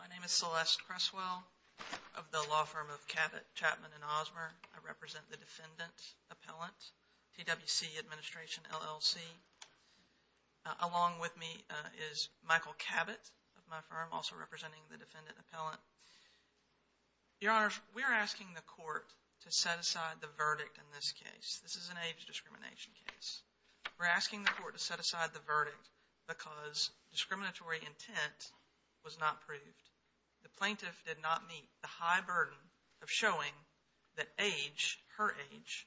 My name is Celeste Cresswell of the law firm of Cabot, Chapman & Osmer. I represent the Defendant Appellant, TWC Administration LLC. Along with me is Michael Cabot of my firm, also representing the Defendant Appellant. Your Honors, we're asking the court to set aside the verdict in this case. This is an age discrimination case. We're asking the court to set aside the verdict because discriminatory intent was not proved. The plaintiff did not meet the high burden of showing that age, her age,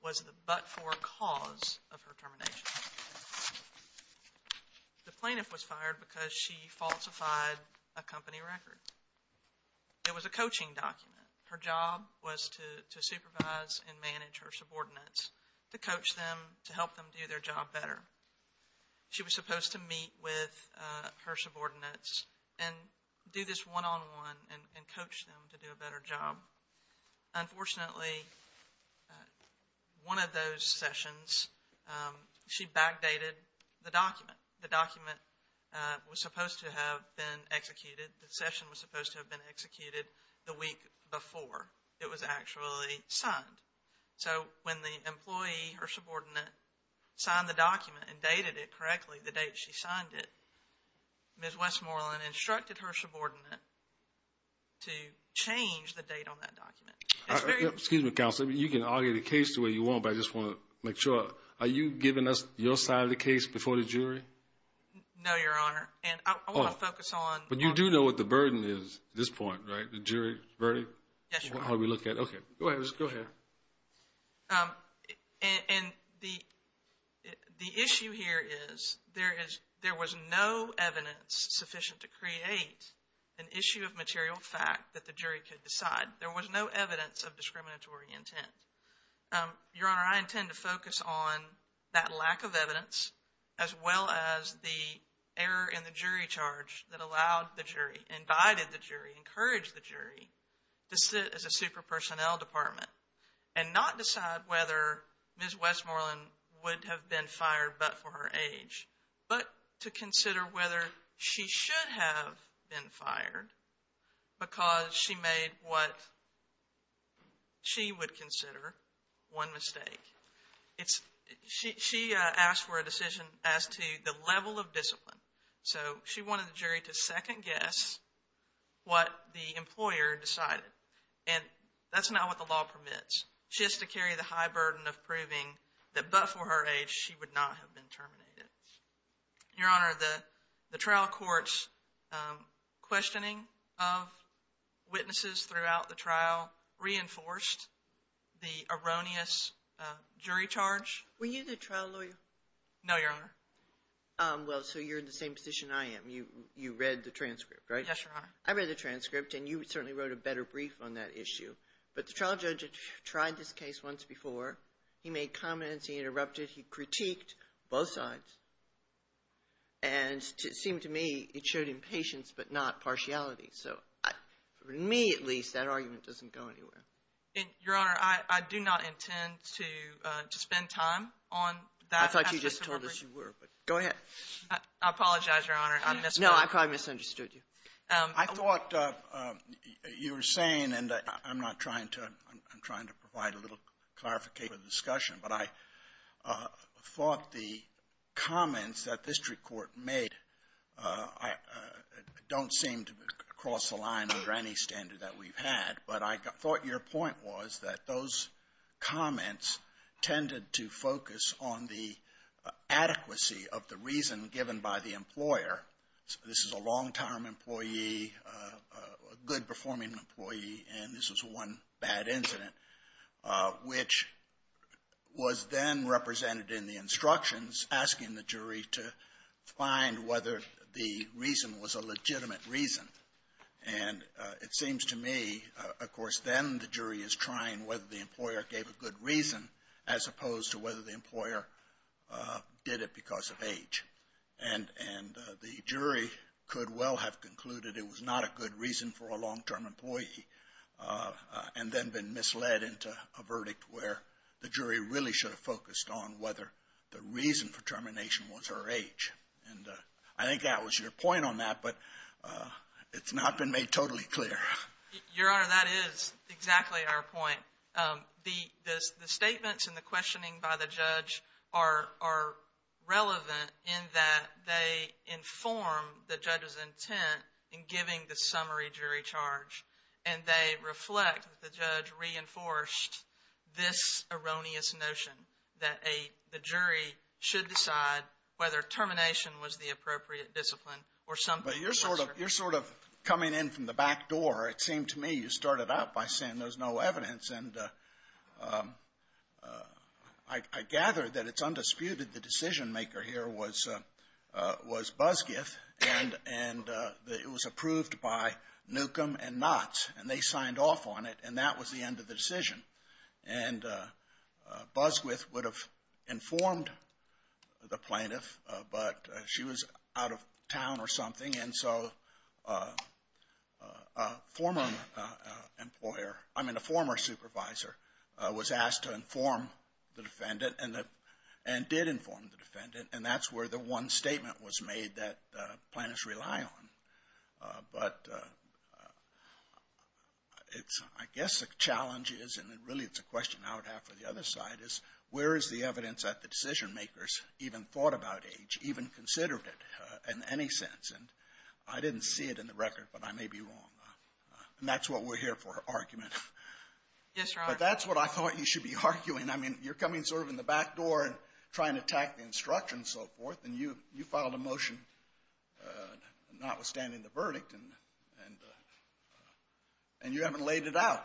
was the but-for cause of her termination. The plaintiff was fired because she falsified a company record. It was a coaching document. Her job was to supervise and manage her subordinates, to coach them, to help them do their job better. She was supposed to meet with her subordinates and do this one-on-one and coach them to do a better job. Unfortunately, one of those sessions, she backdated the document. The document was supposed to have been executed, the session was supposed to have been executed the week before it was actually signed. When the employee, her subordinate, signed the document and dated it correctly, the date she signed it, Ms. Westmoreland instructed her subordinate to change the date on that document. Excuse me, Counselor. You can argue the case the way you want, but I just want to make sure. Are you giving us your side of the case before the jury? No, Your Honor. I want to focus on… But you do know what the burden is at this point, right? The jury verdict? Yes, Your Honor. And the issue here is there was no evidence sufficient to create an issue of material fact that the jury could decide. There was no evidence of discriminatory intent. Your Honor, I intend to focus on that lack of evidence as well as the error in the jury charge that allowed the jury, indicted the jury, encouraged the jury to sit as a super-personnel department and not decide whether Ms. Westmoreland would have been fired but for her age, but to consider whether she should have been fired because she made what she would consider. One mistake. She asked for a decision as to the level of discipline. So she wanted the jury to second-guess what the employer decided. And that's not what the law permits. She has to carry the high burden of proving that but for her age, she would not have been terminated. Your Honor, the trial court's questioning of witnesses throughout the trial reinforced the erroneous jury charge. Were you the trial lawyer? No, Your Honor. Well, so you're in the same position I am. You read the transcript, right? Yes, Your Honor. I read the transcript, and you certainly wrote a better brief on that issue. But the trial judge tried this case once before. He made comments. He interrupted. He critiqued both sides. And it seemed to me it showed impatience but not partiality. So for me, at least, that argument doesn't go anywhere. Your Honor, I do not intend to spend time on that. I thought you just told us you were, but go ahead. I apologize, Your Honor. No, I probably misunderstood you. I thought you were saying, and I'm not trying to, I'm trying to provide a little clarification for the discussion, but I thought the comments that the district court made don't seem to cross the line under any standard that we've had. But I thought your point was that those comments tended to focus on the adequacy of the reason given by the employer. This is a long-time employee, a good-performing employee, and this was one bad incident, which was then represented in the instructions asking the jury to find whether the reason was a legitimate reason. And it seems to me, of course, then the jury is trying whether the employer gave a good reason as opposed to whether the employer did it because of age. And the jury could well have concluded it was not a good reason for a long-term employee and then been misled into a verdict where the jury really should have focused on whether the reason for termination was her age. And I think that was your point on that, but it's not been made totally clear. Your Honor, that is exactly our point. The statements and the questioning by the judge are relevant in that they inform the judge's intent in giving the summary jury charge. And they reflect that the judge reinforced this erroneous notion that the jury should decide whether termination was the appropriate discipline or something else. So you're sort of coming in from the back door. It seemed to me you started out by saying there's no evidence. And I gather that it's undisputed the decision-maker here was Busquith, and it was approved by Newcomb and Knotts, and they signed off on it, and that was the end of the decision. And Busquith would have informed the plaintiff, but she was out of town or something, and so a former supervisor was asked to inform the defendant and did inform the defendant, and that's where the one statement was made that plaintiffs rely on. But I guess the challenge is, and really it's a question I would have for the other side, is where is the evidence that the decision-makers even thought about age, even considered it in any sense? And I didn't see it in the record, but I may be wrong. And that's what we're here for, argument. Yes, Your Honor. But that's what I thought you should be arguing. I mean, you're coming sort of in the back door and trying to attack the instruction and so forth, and you filed a motion notwithstanding the verdict, and you haven't laid it out.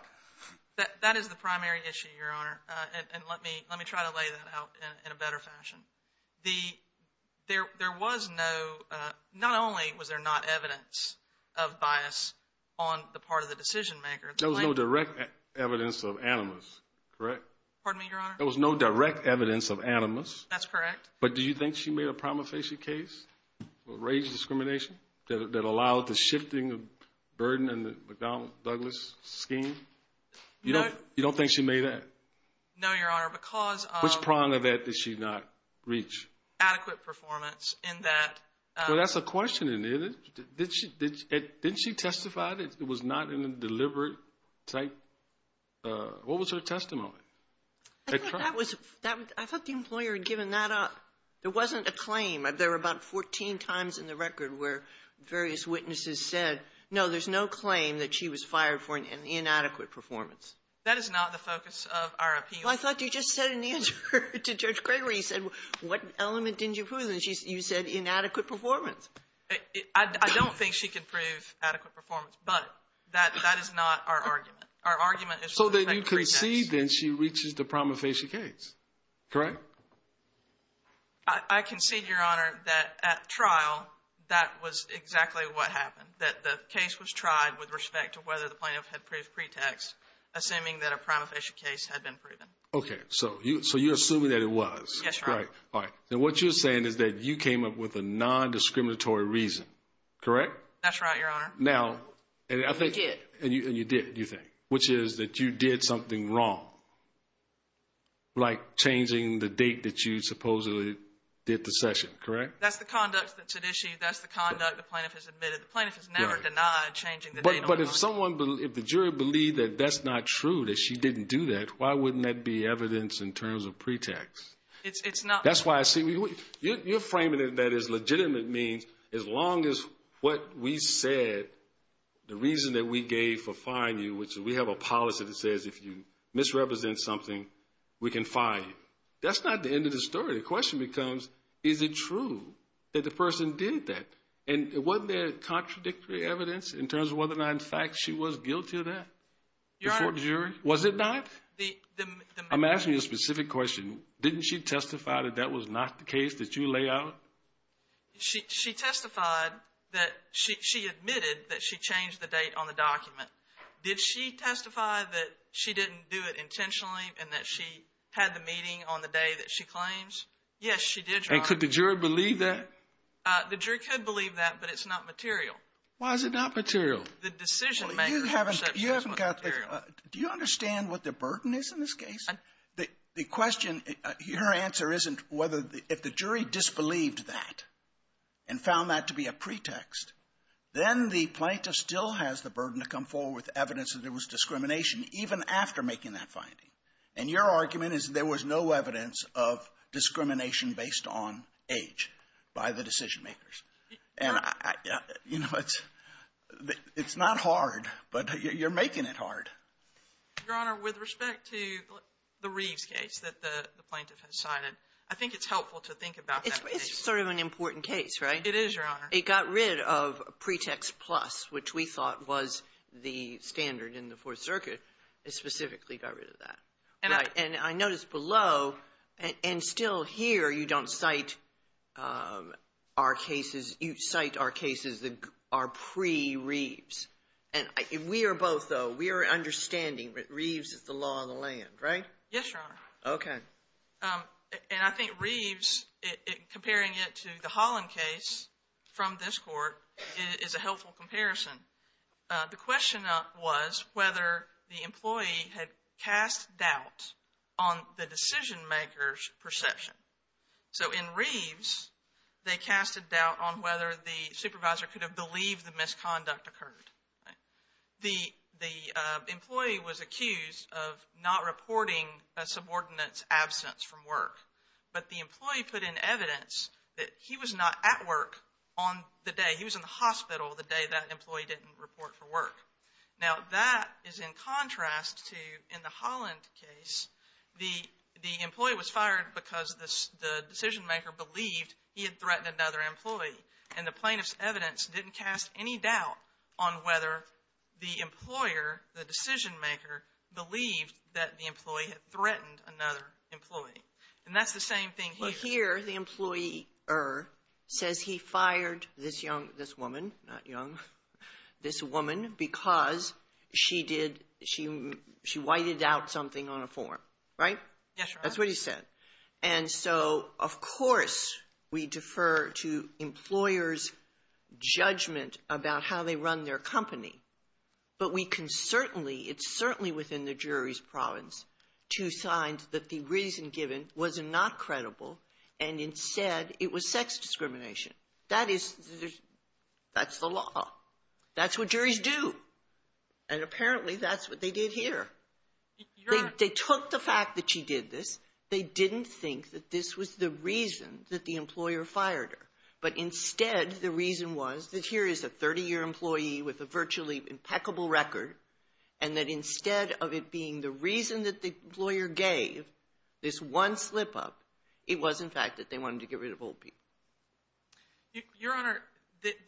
That is the primary issue, Your Honor, and let me try to lay that out in a better fashion. There was no – not only was there not evidence of bias on the part of the decision-maker, the plaintiff – Pardon me, Your Honor. There was no direct evidence of animus. That's correct. But do you think she made a prima facie case for age discrimination that allowed the shifting of burden in the McDonnell-Douglas scheme? No. You don't think she made that? No, Your Honor, because of – Which prong of that did she not reach? Adequate performance in that – Well, that's a question, isn't it? Didn't she testify that it was not in a deliberate type – what was her testimony? I thought that was – I thought the employer had given that up. There wasn't a claim. There were about 14 times in the record where various witnesses said, no, there's no claim that she was fired for an inadequate performance. That is not the focus of our appeal. Well, I thought you just said in the answer to Judge Gregory, you said, what element didn't you prove? And you said inadequate performance. I don't think she could prove adequate performance, but that is not our argument. Our argument is – So then you concede, then, she reaches the prima facie case, correct? I concede, Your Honor, that at trial, that was exactly what happened, that the case was tried with respect to whether the plaintiff had proved pretext, assuming that a prima facie case had been proven. Okay, so you're assuming that it was. Yes, Your Honor. All right. And what you're saying is that you came up with a nondiscriminatory reason, correct? That's right, Your Honor. Now, and I think – I did. And you did, you think, which is that you did something wrong, like changing the date that you supposedly did the session, correct? That's the conduct that's at issue. That's the conduct the plaintiff has admitted. The plaintiff has never denied changing the date. But if someone – if the jury believed that that's not true, that she didn't do that, why wouldn't that be evidence in terms of pretext? It's not – That's why I see – you're framing it as legitimate means as long as what we said, the reason that we gave for firing you, which we have a policy that says if you misrepresent something, we can fire you. That's not the end of the story. The question becomes, is it true that the person did that? And wasn't there contradictory evidence in terms of whether or not, in fact, she was guilty of that before the jury? Your Honor – Was it not? The – I'm asking you a specific question. Didn't she testify that that was not the case that you lay out? She testified that – she admitted that she changed the date on the document. Did she testify that she didn't do it intentionally and that she had the meeting on the day that she claims? Yes, she did, Your Honor. And could the jury believe that? The jury could believe that, but it's not material. Why is it not material? The decision-maker's perception is not material. Do you understand what the burden is in this case? The question – your answer isn't whether – if the jury disbelieved that and found that to be a pretext, then the plaintiff still has the burden to come forward with evidence that there was discrimination even after making that finding. And your argument is there was no evidence of discrimination based on age by the decision-makers. And I – you know, it's not hard, but you're making it hard. Your Honor, with respect to the Reeves case that the plaintiff has cited, I think it's helpful to think about that case. It's sort of an important case, right? It is, Your Honor. It got rid of pretext plus, which we thought was the standard in the Fourth Circuit. It specifically got rid of that. And I noticed below, and still here, you don't cite our cases – you cite our cases that are pre-Reeves. And we are both, though – we are understanding that Reeves is the law of the land, right? Yes, Your Honor. Okay. And I think Reeves, comparing it to the Holland case from this court, is a helpful comparison. The question was whether the employee had cast doubt on the decision-maker's perception. So in Reeves, they cast a doubt on whether the supervisor could have believed the misconduct occurred. The employee was accused of not reporting a subordinate's absence from work. But the employee put in evidence that he was not at work on the day. He was in the hospital the day that employee didn't report for work. Now, that is in contrast to, in the Holland case, the employee was fired because the decision-maker believed he had threatened another employee. And the plaintiff's evidence didn't cast any doubt on whether the employer, the decision-maker, believed that the employee had threatened another employee. And that's the same thing here. Well, here, the employer says he fired this young – this woman, not young – this woman because she did – she whited out something on a form, right? Yes, Your Honor. That's what he said. And so, of course, we defer to employers' judgment about how they run their company. But we can certainly – it's certainly within the jury's province to sign that the reason given was not credible and, instead, it was sex discrimination. That is – that's the law. That's what juries do. And apparently, that's what they did here. Your Honor – But they took the fact that she did this. They didn't think that this was the reason that the employer fired her. But, instead, the reason was that here is a 30-year employee with a virtually impeccable record and that, instead of it being the reason that the employer gave, this one slip-up, it was, in fact, that they wanted to get rid of old people. Your Honor,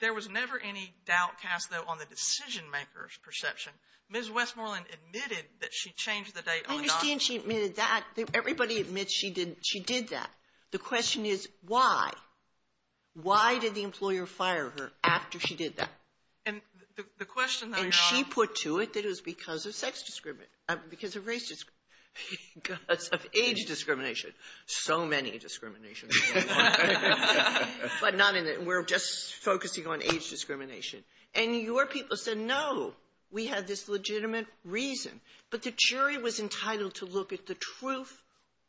there was never any doubt cast, though, on the decision-maker's perception. Ms. Westmoreland admitted that she changed the date on the lawsuit. I understand she admitted that. Everybody admits she did that. The question is why. Why did the employer fire her after she did that? And the question, though, Your Honor – And she put to it that it was because of sex discrimination – because of race – because of age discrimination. So many discriminations. But none in it. We're just focusing on age discrimination. And your people said, no, we have this legitimate reason. But the jury was entitled to look at the truth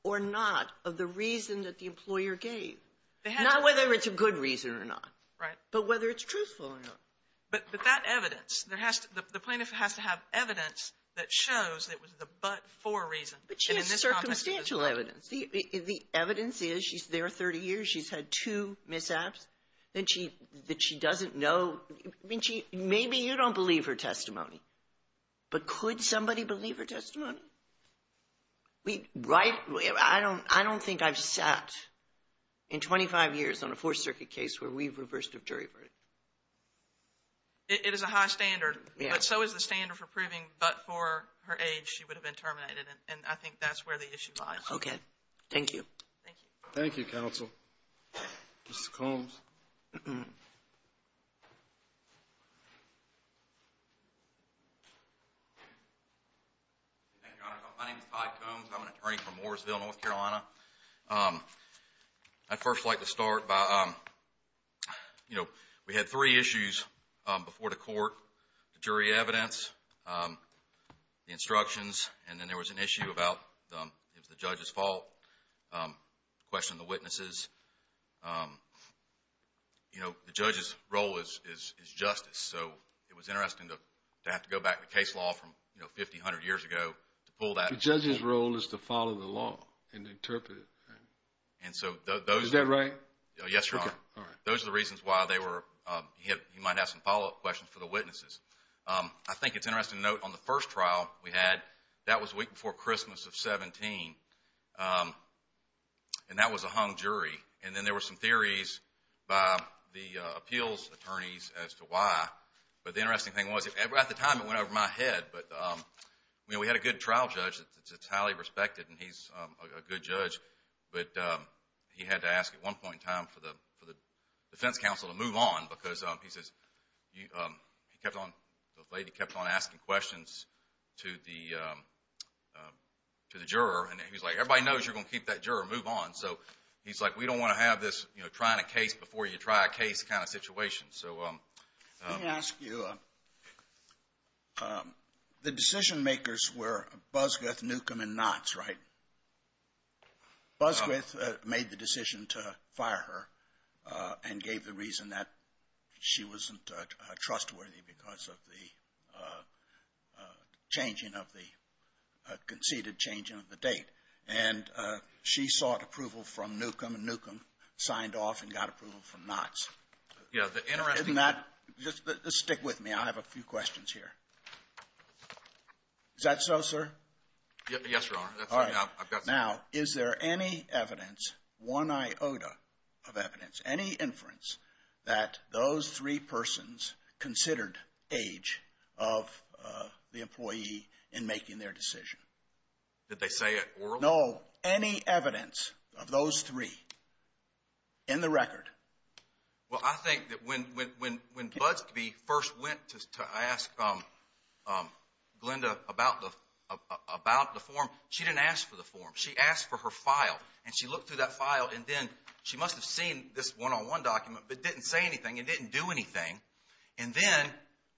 or not of the reason that the employer gave. Not whether it's a good reason or not. Right. But whether it's truthful or not. But that evidence, the plaintiff has to have evidence that shows it was the but-for reason. But she has circumstantial evidence. The evidence is she's there 30 years. She's had two mishaps that she doesn't know. Maybe you don't believe her testimony. But could somebody believe her testimony? I don't think I've sat in 25 years on a Fourth Circuit case where we've reversed a jury verdict. It is a high standard. But so is the standard for proving but-for her age she would have been terminated. And I think that's where the issue lies. Okay. Thank you. Thank you. Thank you, counsel. Mr. Combs. Thank you, Your Honor. My name is Todd Combs. I'm an attorney from Mooresville, North Carolina. I'd first like to start by, you know, we had three issues before the court. The jury evidence. The instructions. And then there was an issue about if it's the judge's fault, question the witnesses. You know, the judge's role is justice. So it was interesting to have to go back to case law from, you know, 50, 100 years ago to pull that. The judge's role is to follow the law and interpret it. Is that right? Yes, Your Honor. Okay. All right. Those are the reasons why you might have some follow-up questions for the witnesses. I think it's interesting to note on the first trial we had, that was a week before Christmas of 17. And that was a hung jury. And then there were some theories by the appeals attorneys as to why. But the interesting thing was at the time it went over my head. But, you know, we had a good trial judge that's highly respected, and he's a good judge. But he had to ask at one point in time for the defense counsel to move on because he kept on, the lady kept on asking questions to the juror. And he was like, everybody knows you're going to keep that juror. Move on. So he's like, we don't want to have this, you know, trying a case before you try a case kind of situation. Let me ask you, the decision makers were Busguth, Newcomb, and Knotts, right? Busguth made the decision to fire her and gave the reason that she wasn't trustworthy because of the changing of the, conceded changing of the date. And she sought approval from Newcomb, and Newcomb signed off and got approval from Knotts. Yeah. Isn't that, just stick with me. I have a few questions here. Is that so, sir? Yes, Your Honor. All right. Now, is there any evidence, one iota of evidence, any inference that those three persons considered age of the employee in making their decision? Did they say it orally? No. Any evidence of those three in the record? Well, I think that when Budsbee first went to ask Glenda about the form, she didn't ask for the form. She asked for her file, and she looked through that file, and then she must have seen this one-on-one document, but it didn't say anything. It didn't do anything. And then,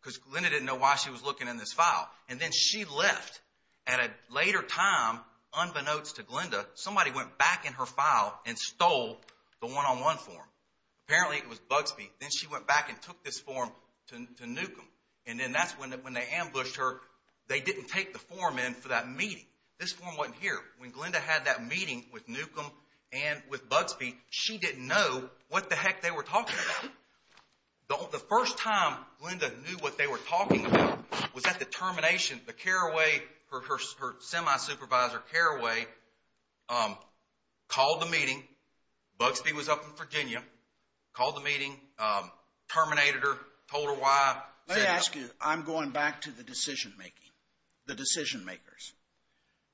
because Glenda didn't know why she was looking in this file, and then she left at a later time unbeknownst to Glenda, somebody went back in her file and stole the one-on-one form. Apparently, it was Budsbee. Then she went back and took this form to Newcomb, and then that's when they ambushed her. They didn't take the form in for that meeting. This form wasn't here. When Glenda had that meeting with Newcomb and with Budsbee, she didn't know what the heck they were talking about. The first time Glenda knew what they were talking about was at the termination, but Carraway, her semi-supervisor, Carraway, called the meeting. Budsbee was up in Virginia, called the meeting, terminated her, told her why. Let me ask you, I'm going back to the decision-making, the decision-makers.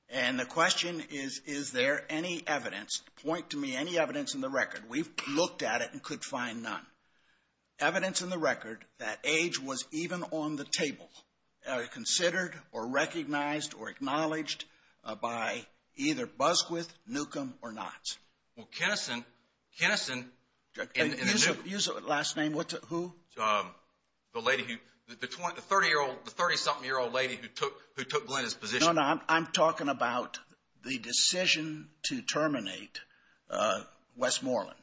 And the question is, is there any evidence, point to me any evidence in the record. We've looked at it and could find none. Evidence in the record that age was even on the table, considered or recognized or acknowledged by either Busquith, Newcomb, or Knotts. Well, Keneson, Keneson. Use the last name, who? The lady who, the 30-something-year-old lady who took Glenda's position. No, no, I'm talking about the decision to terminate Westmoreland.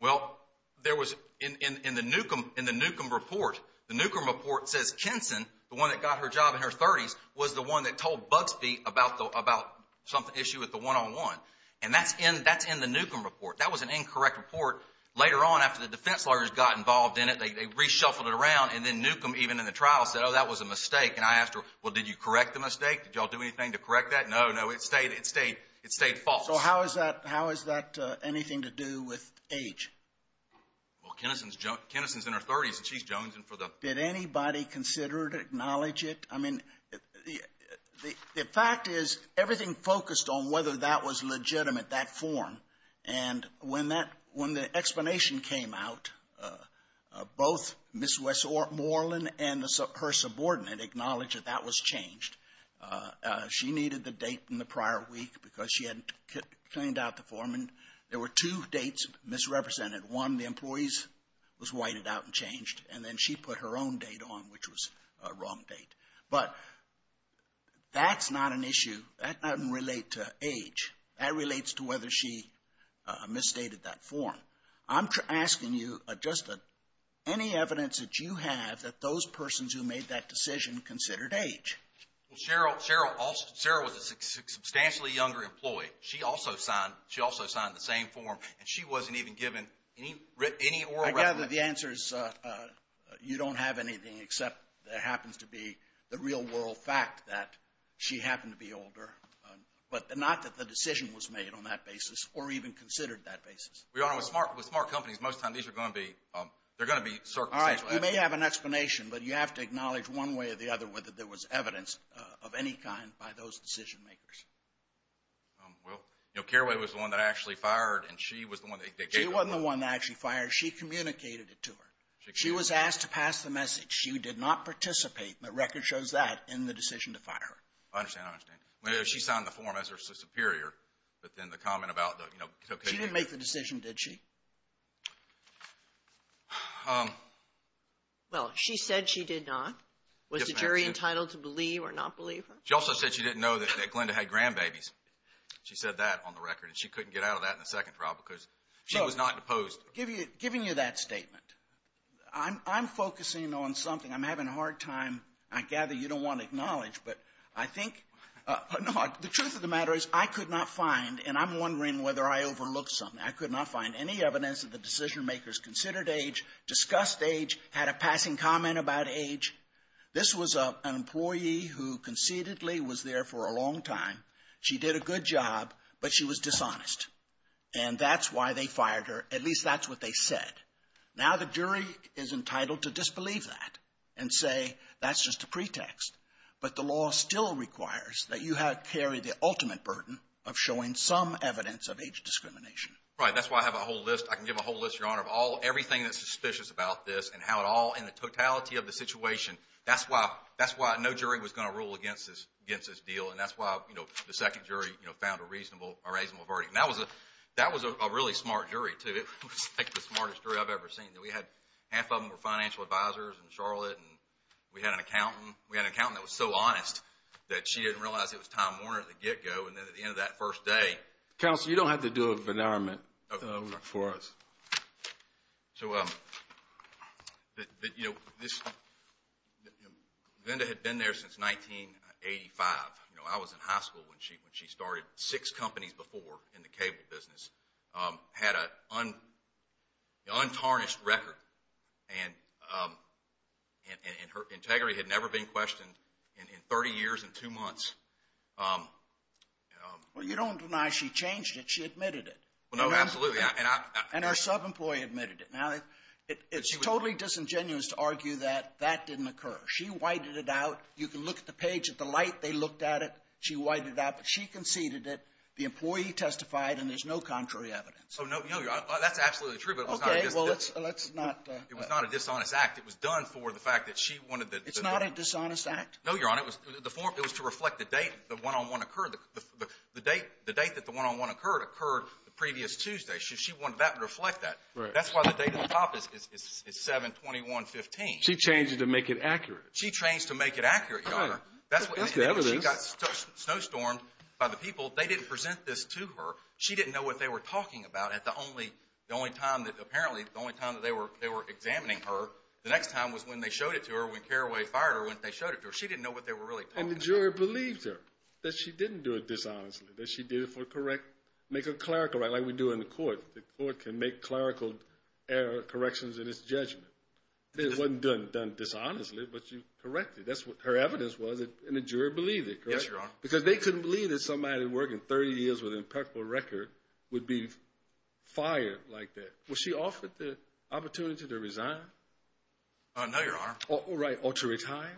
Well, there was, in the Newcomb report, the Newcomb report says Keneson, the one that got her job in her 30s, was the one that told Budsbee about the issue with the one-on-one. And that's in the Newcomb report. That was an incorrect report. Later on, after the defense lawyers got involved in it, they reshuffled it around, and then Newcomb, even in the trial, said, oh, that was a mistake. And I asked her, well, did you correct the mistake? Did you all do anything to correct that? No, no, it stayed false. So how is that anything to do with age? Well, Keneson's in her 30s, and she's Jones. Did anybody consider it, acknowledge it? I mean, the fact is everything focused on whether that was legitimate, that form. And when the explanation came out, both Ms. Westmoreland and her subordinate acknowledged that that was changed. She needed the date in the prior week because she hadn't cleaned out the form, and there were two dates misrepresented. One, the employees was whited out and changed, and then she put her own date on, which was a wrong date. But that's not an issue. That doesn't relate to age. That relates to whether she misstated that form. I'm asking you just any evidence that you have that those persons who made that decision considered age. Well, Cheryl was a substantially younger employee. She also signed the same form, and she wasn't even given any oral record. I gather the answer is you don't have anything except there happens to be the real world fact that she happened to be older, but not that the decision was made on that basis or even considered that basis. Your Honor, with smart companies, most of the time they're going to be circumstantial evidence. You may have an explanation, but you have to acknowledge one way or the other whether there was evidence of any kind by those decision makers. Well, Carraway was the one that actually fired, and she was the one that gave the order. She wasn't the one that actually fired. She communicated it to her. She was asked to pass the message. She did not participate, and the record shows that, in the decision to fire her. I understand. She signed the form as her superior, but then the comment about, you know, She didn't make the decision, did she? Well, she said she did not. Was the jury entitled to believe or not believe her? She also said she didn't know that Glenda had grandbabies. She said that on the record, and she couldn't get out of that in the second trial because she was not deposed. So, giving you that statement, I'm focusing on something. I'm having a hard time. I gather you don't want to acknowledge, but I think the truth of the matter is I could not find, and I'm wondering whether I overlooked something, I could not find any evidence that the decision makers considered age, discussed age, had a passing comment about age. This was an employee who conceitedly was there for a long time. She did a good job, but she was dishonest. And that's why they fired her. At least that's what they said. Now the jury is entitled to disbelieve that and say that's just a pretext. But the law still requires that you carry the ultimate burden of showing some evidence of age discrimination. Right. That's why I have a whole list. I can give a whole list, Your Honor, of everything that's suspicious about this and how it all in the totality of the situation. That's why no jury was going to rule against this deal, and that's why the second jury found a reasonable verdict. That was a really smart jury, too. It was, I think, the smartest jury I've ever seen. Half of them were financial advisors in Charlotte, and we had an accountant. We had an accountant that was so honest that she didn't realize it was Tom Warner at the get-go, and then at the end of that first day. Counsel, you don't have to do an announcement for us. Vinda had been there since 1985. I was in high school when she started. Six companies before in the cable business had an untarnished record, and her integrity had never been questioned in 30 years and two months. Well, you don't deny she changed it. She admitted it. Well, no, absolutely. And our sub-employee admitted it. Now, it's totally disingenuous to argue that that didn't occur. She whited it out. You can look at the page at the light. They looked at it. She whited it out, but she conceded it. The employee testified, and there's no contrary evidence. Oh, no, Your Honor. That's absolutely true, but it was not a dishonest act. It was done for the fact that she wanted the – It's not a dishonest act? No, Your Honor. It was to reflect the date the one-on-one occurred. The date that the one-on-one occurred occurred the previous Tuesday. She wanted that to reflect that. That's why the date on the top is 7-21-15. She changed it to make it accurate. She changed it to make it accurate, Your Honor. That's the evidence. She got snowstormed by the people. They didn't present this to her. She didn't know what they were talking about. The only time that – apparently, the only time that they were examining her, the next time was when they showed it to her when Carraway fired her. She didn't know what they were really talking about. And the juror believed her that she didn't do it dishonestly, that she did it for correct – make a clerical right like we do in the court. The court can make clerical corrections in its judgment. It wasn't done dishonestly, but you corrected. That's what her evidence was, and the juror believed it, correct? Yes, Your Honor. Because they couldn't believe that somebody working 30 years with an impeccable record would be fired like that. Was she offered the opportunity to resign? No, Your Honor. Right, or to retire?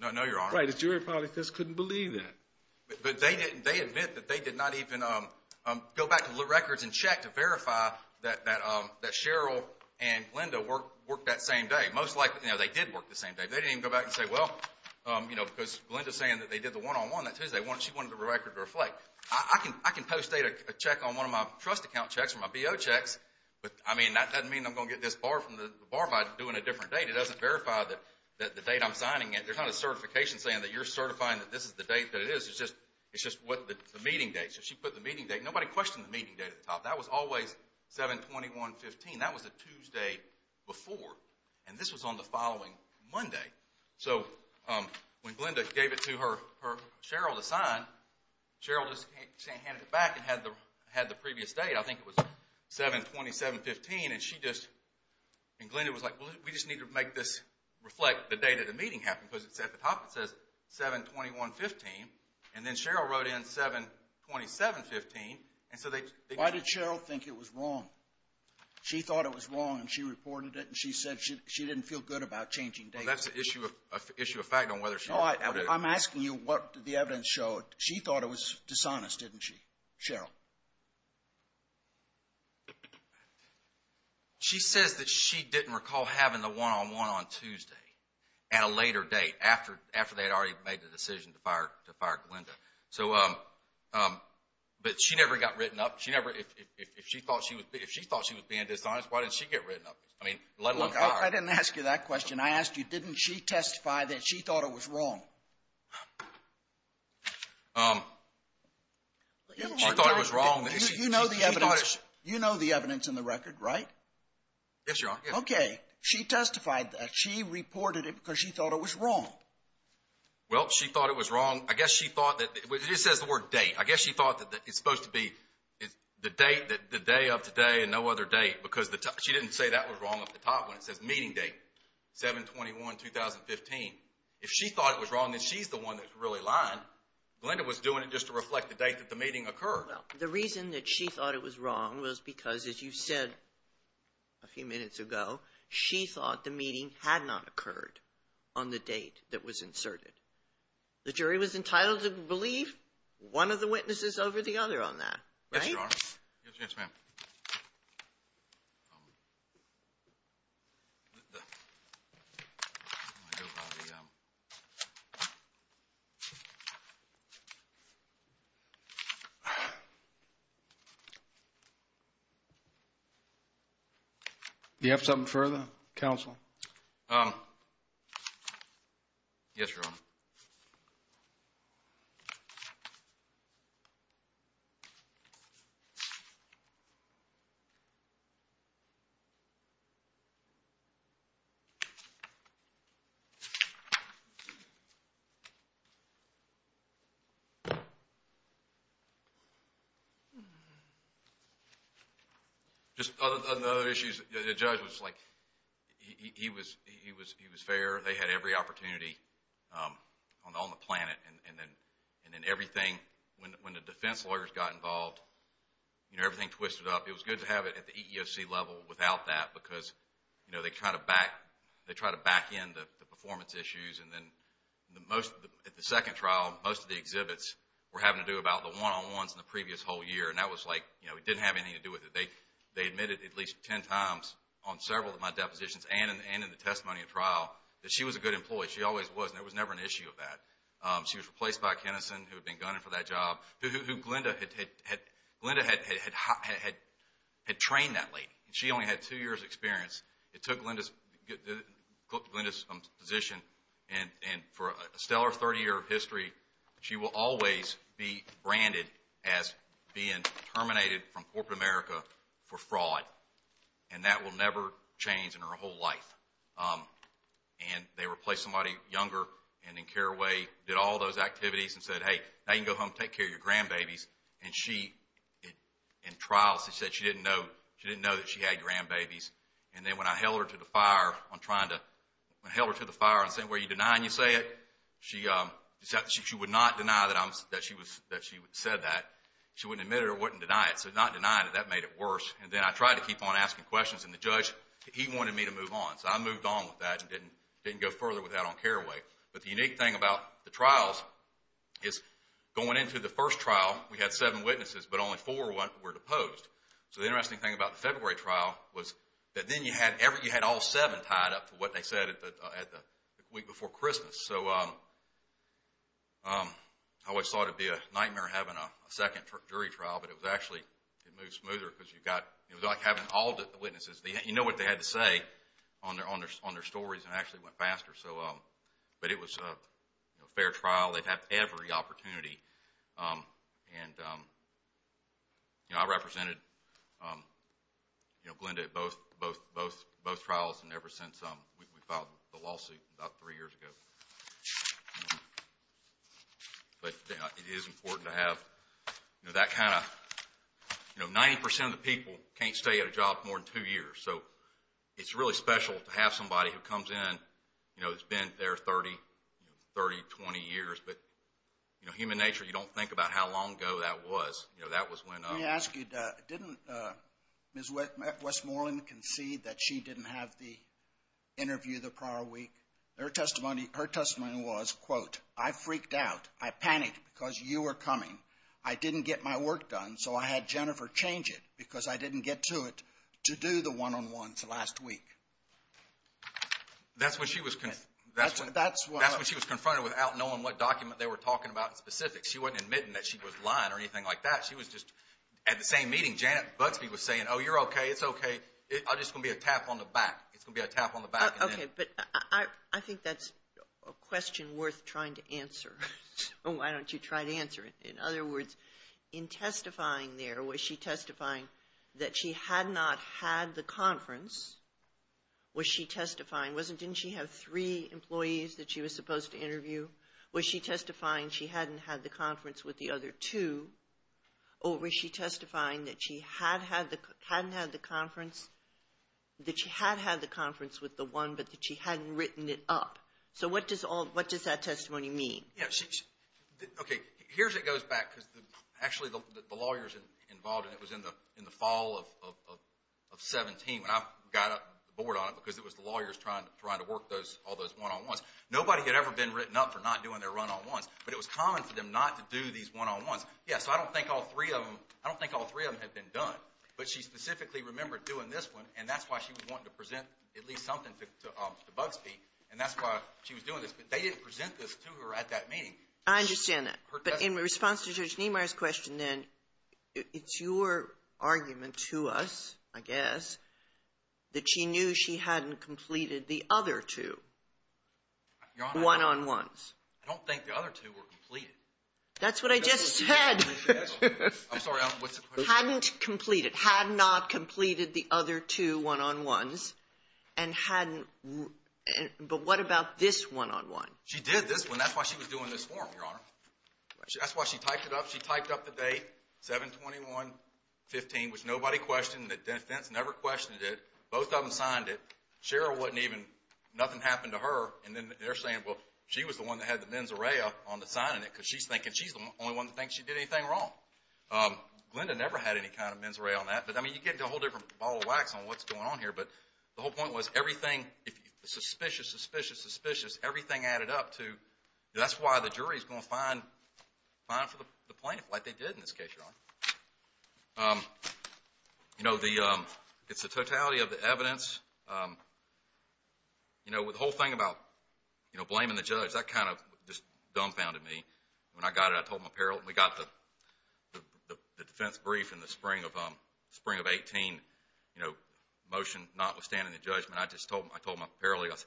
No, Your Honor. Right, the jury probably just couldn't believe that. But they didn't – they admit that they did not even go back to the records and check to verify that Cheryl and Glenda worked that same day. Most likely, you know, they did work the same day. They didn't even go back and say, well, you know, because Glenda's saying that they did the one-on-one that Tuesday. She wanted the record to reflect. I can post a check on one of my trust account checks or my BO checks, but, I mean, that doesn't mean I'm going to get this barred from the bar by doing a different date. I mean, it doesn't verify that the date I'm signing it. There's not a certification saying that you're certifying that this is the date that it is. It's just the meeting date. So she put the meeting date. Nobody questioned the meeting date at the top. That was always 7-21-15. That was the Tuesday before, and this was on the following Monday. So when Glenda gave it to Cheryl to sign, Cheryl just handed it back and had the previous date. I think it was 7-27-15, and she just – to make this reflect the date that the meeting happened, because at the top it says 7-21-15, and then Cheryl wrote in 7-27-15, and so they – Why did Cheryl think it was wrong? She thought it was wrong, and she reported it, and she said she didn't feel good about changing dates. Well, that's an issue of fact on whether Cheryl reported it. I'm asking you what the evidence showed. She thought it was dishonest, didn't she, Cheryl? She says that she didn't recall having the one-on-one on Tuesday at a later date, after they had already made the decision to fire Glenda. But she never got written up. If she thought she was being dishonest, why didn't she get written up? I mean, let alone fired. I didn't ask you that question. I asked you, didn't she testify that she thought it was wrong? She thought it was wrong. You know the evidence in the record, right? Yes, Your Honor. Okay. She testified that she reported it because she thought it was wrong. Well, she thought it was wrong. I guess she thought that – it just says the word date. I guess she thought that it's supposed to be the day of today and no other date, because she didn't say that was wrong at the top when it says meeting date, 7-21-2015. If she thought it was wrong, then she's the one that's really lying. Glenda was doing it just to reflect the date that the meeting occurred. Well, the reason that she thought it was wrong was because, as you said a few minutes ago, she thought the meeting had not occurred on the date that was inserted. The jury was entitled to believe one of the witnesses over the other on that, right? Yes, Your Honor. Yes, ma'am. Okay. Do you have something further, counsel? Yes, Your Honor. Okay. Just on other issues, the judge was like – he was fair. They had every opportunity on the planet, and then everything – it was good to have it at the EEOC level without that, because they try to back in the performance issues, and then at the second trial, most of the exhibits were having to do about the one-on-ones in the previous whole year, and that was like – it didn't have anything to do with it. They admitted at least ten times on several of my depositions and in the testimony at trial that she was a good employee. She always was, and there was never an issue of that. She was replaced by a Kenison who had been gunning for that job, who Glenda had trained that lady. She only had two years' experience. It took Glenda's position, and for a stellar 30-year history, she will always be branded as being terminated from corporate America for fraud, and that will never change in her whole life. And they replaced somebody younger and did all those activities and said, hey, now you can go home and take care of your grandbabies. And she – in trials, they said she didn't know that she had grandbabies. And then when I held her to the fire on trying to – when I held her to the fire and said, well, you deny and you say it, she would not deny that she said that. She wouldn't admit it or wouldn't deny it. So not denying it, that made it worse. And then I tried to keep on asking questions, and the judge, he wanted me to move on. So I moved on with that and didn't go further with that on Caraway. But the unique thing about the trials is going into the first trial, we had seven witnesses, but only four were deposed. So the interesting thing about the February trial was that then you had all seven tied up to what they said the week before Christmas. So I always thought it would be a nightmare having a second jury trial, but it was actually – it moved smoother because you got – it was like having all the witnesses. You know what they had to say on their stories, and it actually went faster. So – but it was a fair trial. They had every opportunity. And, you know, I represented, you know, Glenda at both trials, and ever since we filed the lawsuit about three years ago. But it is important to have, you know, that kind of – you know, 90% of the people can't stay at a job more than two years. So it's really special to have somebody who comes in, you know, who's been there 30, 20 years. But, you know, human nature, you don't think about how long ago that was. You know, that was when – Let me ask you, didn't Ms. Westmoreland concede that she didn't have the interview the prior week? Her testimony was, quote, I freaked out. I panicked because you were coming. I didn't get my work done, so I had Jennifer change it because I didn't get to it more than once last week. That's when she was – That's when – That's when she was confronted without knowing what document they were talking about in specific. She wasn't admitting that she was lying or anything like that. She was just – at the same meeting, Janet Butsby was saying, oh, you're okay, it's okay, I'm just going to be a tap on the back. It's going to be a tap on the back. Okay, but I think that's a question worth trying to answer. Why don't you try to answer it? In other words, in testifying there, was she testifying that she had not had the conference? Was she testifying – didn't she have three employees that she was supposed to interview? Was she testifying she hadn't had the conference with the other two? Or was she testifying that she had had the conference with the one, but that she hadn't written it up? So what does that testimony mean? Okay, here it goes back, because actually the lawyers involved, and it was in the fall of 2017 when I got on board on it because it was the lawyers trying to work all those one-on-ones. Nobody had ever been written up for not doing their one-on-ones, but it was common for them not to do these one-on-ones. Yeah, so I don't think all three of them had been done, but she specifically remembered doing this one, and that's why she was wanting to present at least something to Butsby, and that's why she was doing this. But they didn't present this to her at that meeting. I understand that. But in response to Judge Niemeyer's question then, it's your argument to us, I guess, that she knew she hadn't completed the other two one-on-ones. I don't think the other two were completed. That's what I just said. I'm sorry, what's the question? Hadn't completed, had not completed the other two one-on-ones, but what about this one-on-one? She did this one. That's why she was doing this forum, Your Honor. That's why she typed it up. She typed up the date, 7-21-15, which nobody questioned. The defense never questioned it. Both of them signed it. Cheryl wasn't even – nothing happened to her, and then they're saying, well, she was the one that had the mens rea on the signing it because she's thinking she's the only one that thinks she did anything wrong. Glenda never had any kind of mens rea on that, but, I mean, you get into a whole different ball of wax on what's going on here, but the whole point was everything, suspicious, suspicious, suspicious, everything added up to that's why the jury is going to fine for the plaintiff, like they did in this case, Your Honor. You know, it's the totality of the evidence. You know, the whole thing about, you know, blaming the judge, that kind of just dumbfounded me. When I got it, I told my apparel, when we got the defense brief in the spring of 18, you know, motion notwithstanding the judgment, I just told my apparel, I said,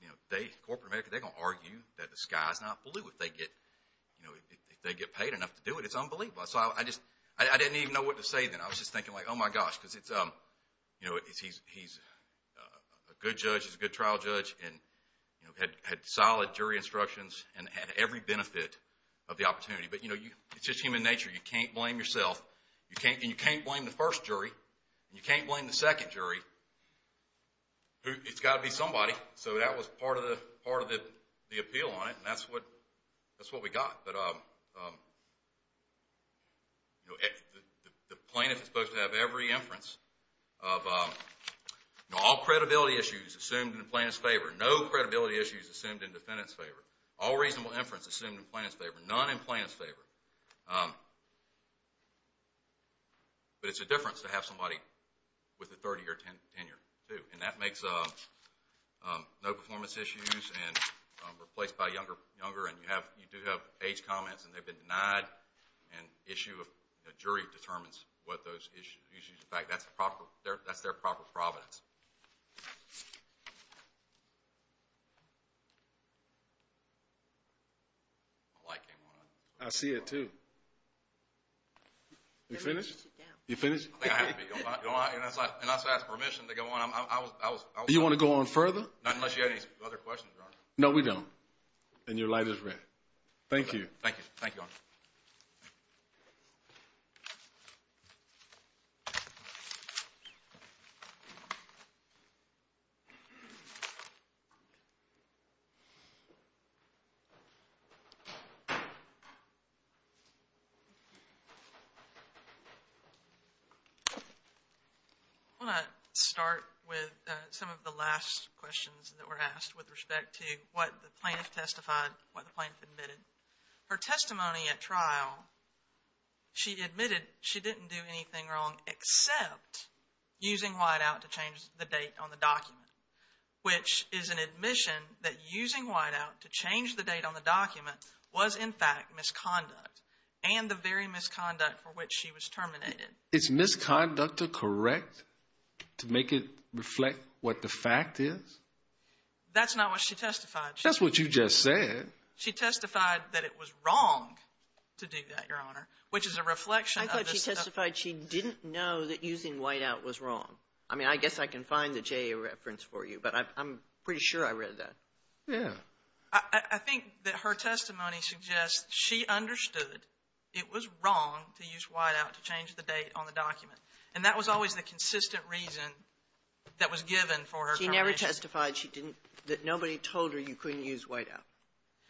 you know, they, corporate America, they're going to argue that the sky is not blue if they get paid enough to do it. It's unbelievable. So I just – I didn't even know what to say then. I was just thinking, like, oh, my gosh, because it's, you know, he's a good judge. He's a good trial judge and, you know, had solid jury instructions and had every benefit of the opportunity. But, you know, it's just human nature. You can't blame yourself, and you can't blame the first jury, and you can't blame the second jury. It's got to be somebody. So that was part of the appeal on it, and that's what we got. But, you know, the plaintiff is supposed to have every inference of, you know, all credibility issues assumed in the plaintiff's favor, no credibility issues assumed in defendant's favor, all reasonable inference assumed in plaintiff's favor, none in plaintiff's favor. But it's a difference to have somebody with a 30-year tenure too, and that makes no performance issues and replaced by younger. And you do have age comments, and they've been denied, and issue of jury determines what those issues – In fact, that's their proper providence. My light came on. I see it too. You finished? You finished? I think I have to be. And not to ask permission to go on. Do you want to go on further? Not unless you have any other questions, Your Honor. No, we don't. And your light is red. Thank you. Thank you. Thank you, Your Honor. I want to start with some of the last questions that were asked with respect to what the plaintiff testified, what the plaintiff admitted. Her testimony at trial, she admitted she didn't do anything wrong except using whiteout to change the date on the document, which is an admission that using whiteout to change the date on the document was, in fact, misconduct, and the very misconduct for which she was terminated. Is misconduct correct to make it reflect what the fact is? That's not what she testified. That's what you just said. She testified that it was wrong to do that, Your Honor, which is a reflection of this. I thought she testified she didn't know that using whiteout was wrong. I mean, I guess I can find the JA reference for you, but I'm pretty sure I read that. Yeah. I think that her testimony suggests she understood it was wrong to use whiteout to change the date on the document, and that was always the consistent reason that was given for her termination. But she testified she didn't – that nobody told her you couldn't use whiteout.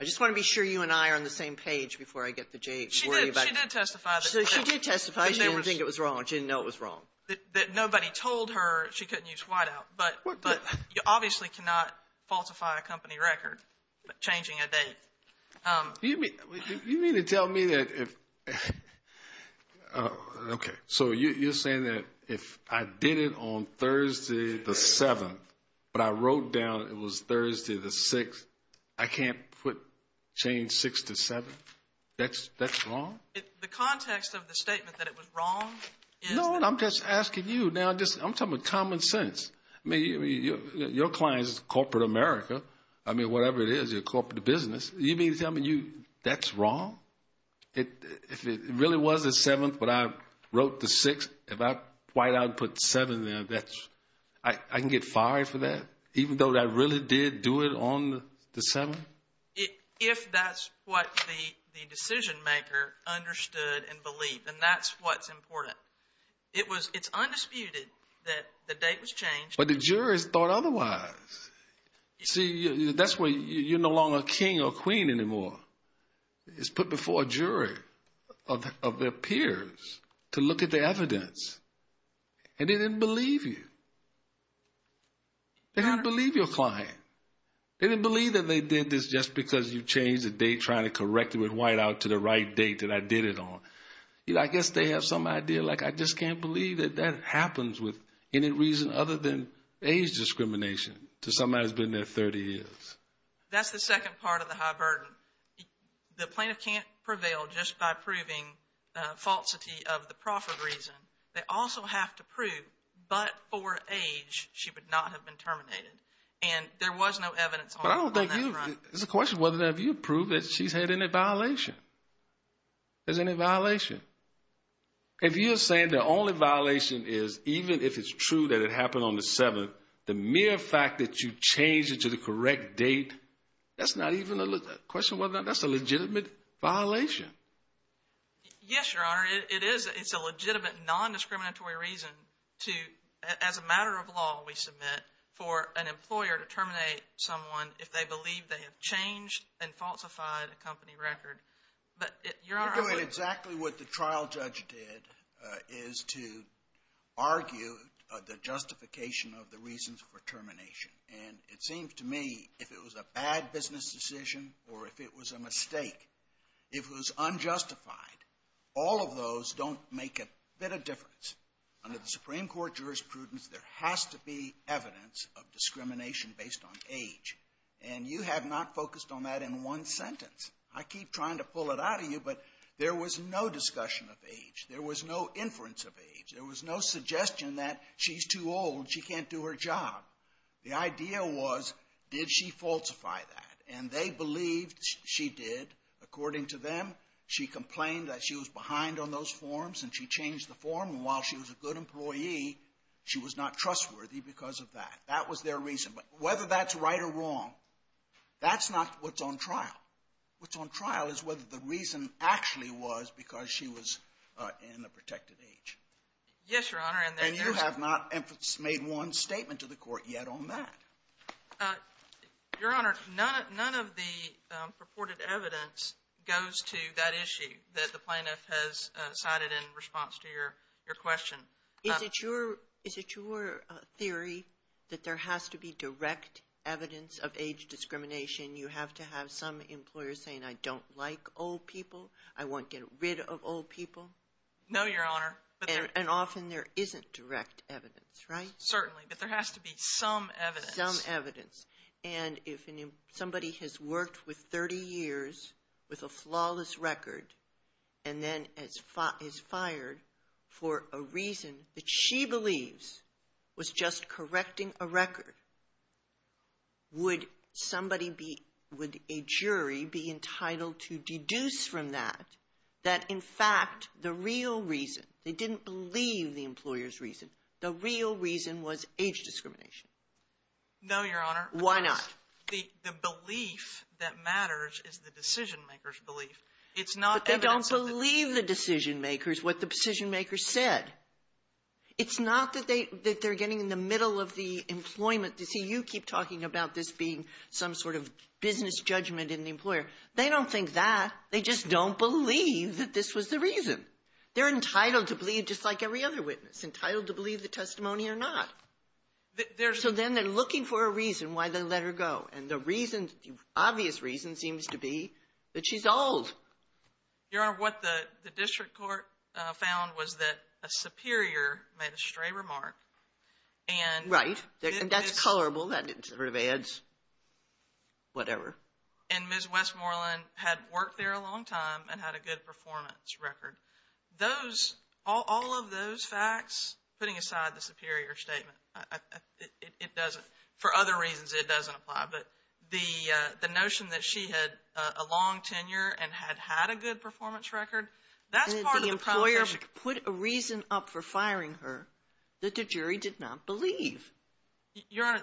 I just want to be sure you and I are on the same page before I get the JA to worry about it. She did testify. She did testify. She didn't think it was wrong. She didn't know it was wrong. That nobody told her she couldn't use whiteout, but you obviously cannot falsify a company record changing a date. You mean to tell me that if – okay. So you're saying that if I did it on Thursday the 7th, but I wrote down it was Thursday the 6th, I can't put – change 6 to 7? That's wrong? The context of the statement that it was wrong is – No, I'm just asking you. Now, I'm talking about common sense. I mean, your client is corporate America. I mean, whatever it is, you're a corporate business. You mean to tell me that's wrong? If it really was the 7th, but I wrote the 6th, if I whiteout and put 7 there, I can get fired for that even though I really did do it on the 7th? If that's what the decision-maker understood and believed, then that's what's important. It's undisputed that the date was changed. But the jurors thought otherwise. See, that's where you're no longer king or queen anymore. It's put before a jury of their peers to look at the evidence. And they didn't believe you. They didn't believe your client. They didn't believe that they did this just because you changed the date trying to correct it with whiteout to the right date that I did it on. I guess they have some idea, like, I just can't believe that that happens with any reason other than age discrimination to somebody that's been there 30 years. That's the second part of the high burden. The plaintiff can't prevail just by proving falsity of the proffered reason. They also have to prove, but for age, she would not have been terminated. And there was no evidence on that front. But I don't think you – it's a question whether or not you prove that she's had any violation. There's any violation. If you're saying the only violation is, even if it's true that it happened on the 7th, but the mere fact that you changed it to the correct date, that's not even a question whether or not that's a legitimate violation. Yes, Your Honor. It is. It's a legitimate non-discriminatory reason to, as a matter of law we submit, for an employer to terminate someone if they believe they have changed and falsified a company record. You're doing exactly what the trial judge did, is to argue the justification of the reasons for termination. And it seems to me if it was a bad business decision or if it was a mistake, if it was unjustified, all of those don't make a bit of difference. Under the Supreme Court jurisprudence, there has to be evidence of discrimination based on age. And you have not focused on that in one sentence. I keep trying to pull it out of you, but there was no discussion of age. There was no inference of age. There was no suggestion that she's too old, she can't do her job. The idea was, did she falsify that? And they believed she did. According to them, she complained that she was behind on those forms and she changed the form. And while she was a good employee, she was not trustworthy because of that. That was their reason. Whether that's right or wrong, that's not what's on trial. What's on trial is whether the reason actually was because she was in the protected age. Yes, Your Honor. And you have not made one statement to the Court yet on that. Your Honor, none of the purported evidence goes to that issue that the plaintiff has cited in response to your question. Is it your theory that there has to be direct evidence of age discrimination? You have to have some employer saying, I don't like old people, I want to get rid of old people? No, Your Honor. And often there isn't direct evidence, right? Certainly, but there has to be some evidence. Some evidence. And if somebody has worked with 30 years with a flawless record and then is fired for a reason that she believes was just correcting a record, would somebody be – would a jury be entitled to deduce from that that, in fact, the real reason – they didn't believe the employer's reason – the real reason was age discrimination? No, Your Honor. Why not? Because the belief that matters is the decision-maker's belief. It's not evidence. But they don't believe the decision-makers, what the decision-makers said. It's not that they're getting in the middle of the employment. You see, you keep talking about this being some sort of business judgment in the employer. They don't think that. They just don't believe that this was the reason. They're entitled to believe, just like every other witness, entitled to believe the testimony or not. So then they're looking for a reason why they let her go. And the reason – the obvious reason seems to be that she's old. Your Honor, what the district court found was that a superior made a stray remark. Right. And that's colorable. That sort of adds whatever. And Ms. Westmoreland had worked there a long time and had a good performance record. Those – all of those facts, putting aside the superior statement, it doesn't – the notion that she had a long tenure and had had a good performance record, that's part of the prima facie. And the employer put a reason up for firing her that the jury did not believe. Your Honor,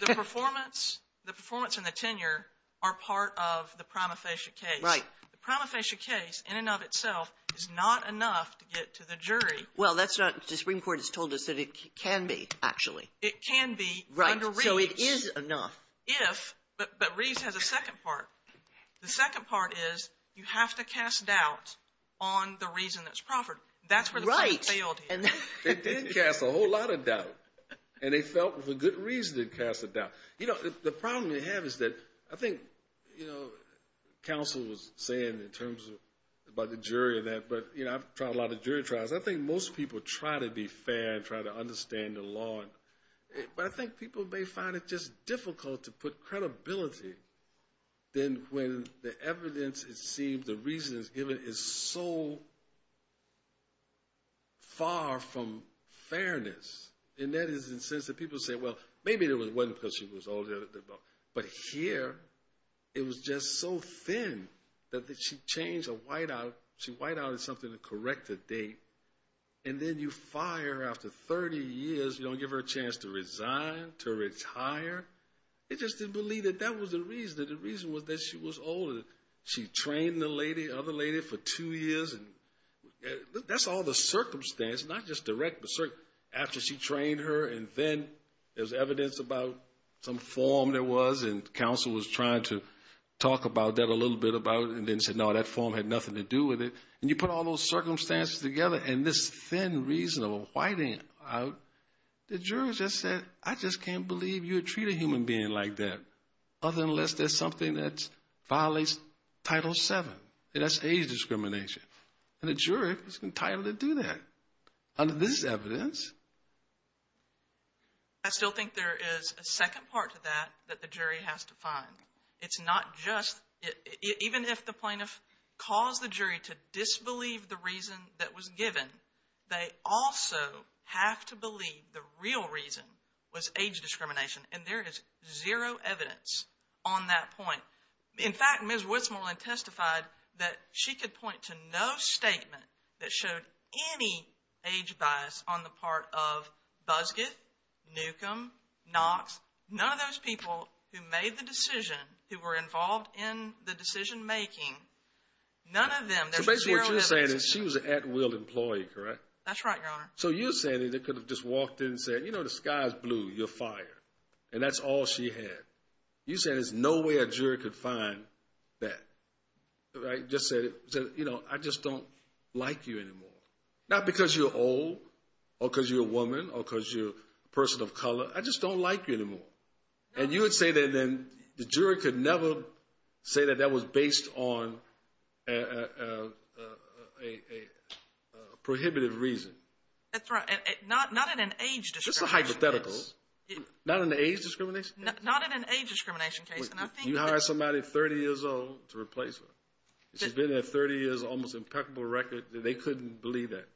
the performance – the performance and the tenure are part of the prima facie case. Right. The prima facie case, in and of itself, is not enough to get to the jury. Well, that's not – the Supreme Court has told us that it can be, actually. It can be under reach. Right. But Reeves has a second part. The second part is you have to cast doubt on the reason that's proffered. That's where the court failed here. Right. They did cast a whole lot of doubt. And they felt, for good reason, they cast a doubt. You know, the problem we have is that I think, you know, counsel was saying in terms of – about the jury and that, but, you know, I've tried a lot of jury trials. I think most people try to be fair and try to understand the law. But I think people may find it just difficult to put credibility then when the evidence, it seems, the reasons given is so far from fairness. And that is in the sense that people say, well, maybe there was one because she was older. But here it was just so thin that she changed a whiteout. She whiteouted something to correct the date. And then you fire her after 30 years. You don't give her a chance to resign, to retire. They just didn't believe that that was the reason. That the reason was that she was older. She trained the lady, other lady, for two years. And that's all the circumstance, not just direct, but after she trained her. And then there was evidence about some form there was, and counsel was trying to talk about that a little bit about it, and then said, no, that form had nothing to do with it. And you put all those circumstances together and this thin reason of a whiteout, the jury just said, I just can't believe you would treat a human being like that, other than unless there's something that violates Title VII. That's age discrimination. And the jury was entitled to do that under this evidence. I still think there is a second part to that that the jury has to find. It's not just, even if the plaintiff caused the jury to disbelieve the reason that was given, they also have to believe the real reason was age discrimination. And there is zero evidence on that point. In fact, Ms. Woodsmoreland testified that she could point to no statement that showed any age bias on the part of Busgett, Newcomb, Knox, none of those people who made the decision, who were involved in the decision making, none of them. So basically what you're saying is she was an at-will employee, correct? That's right, Your Honor. So you're saying they could have just walked in and said, you know, the sky is blue, you're fired. And that's all she had. You're saying there's no way a jury could find that. Just said, you know, I just don't like you anymore. Not because you're old or because you're a woman or because you're a person of color. I just don't like you anymore. And you would say that then the jury could never say that that was based on a prohibited reason. That's right. Not in an age discrimination case. That's a hypothetical. Not in an age discrimination case? Not in an age discrimination case. You hired somebody 30 years old to replace her. She's been there 30 years, almost impeccable record. They couldn't believe that.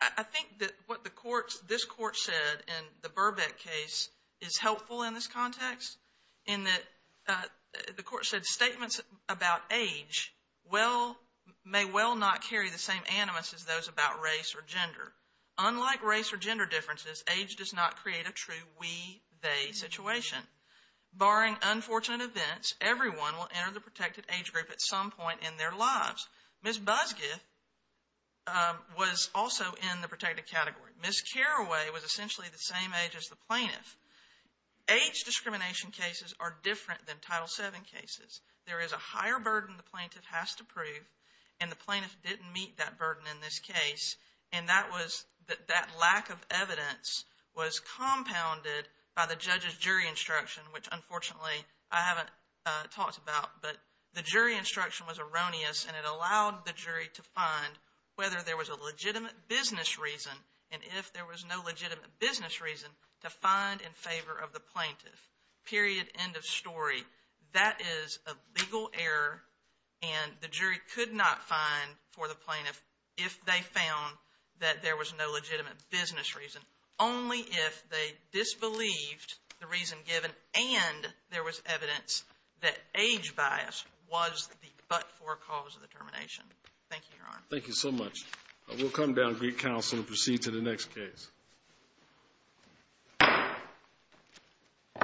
I think that what this court said in the Burbeck case is helpful in this context. In that the court said statements about age may well not carry the same animus as those about race or gender. Unlike race or gender differences, age does not create a true we-they situation. Barring unfortunate events, everyone will enter the protected age group at some point in their lives. Ms. Busguth was also in the protected category. Ms. Carraway was essentially the same age as the plaintiff. Age discrimination cases are different than Title VII cases. There is a higher burden the plaintiff has to prove, and the plaintiff didn't meet that burden in this case. And that was-that lack of evidence was compounded by the judge's jury instruction, which unfortunately I haven't talked about, but the jury instruction was erroneous, and it allowed the jury to find whether there was a legitimate business reason, and if there was no legitimate business reason, to find in favor of the plaintiff. Period. End of story. That is a legal error, and the jury could not find for the plaintiff if they found that there was no legitimate business reason. Only if they disbelieved the reason given and there was evidence that age bias was the but-for cause of the termination. Thank you, Your Honor. Thank you so much. We'll come down to Greek counsel and proceed to the next case.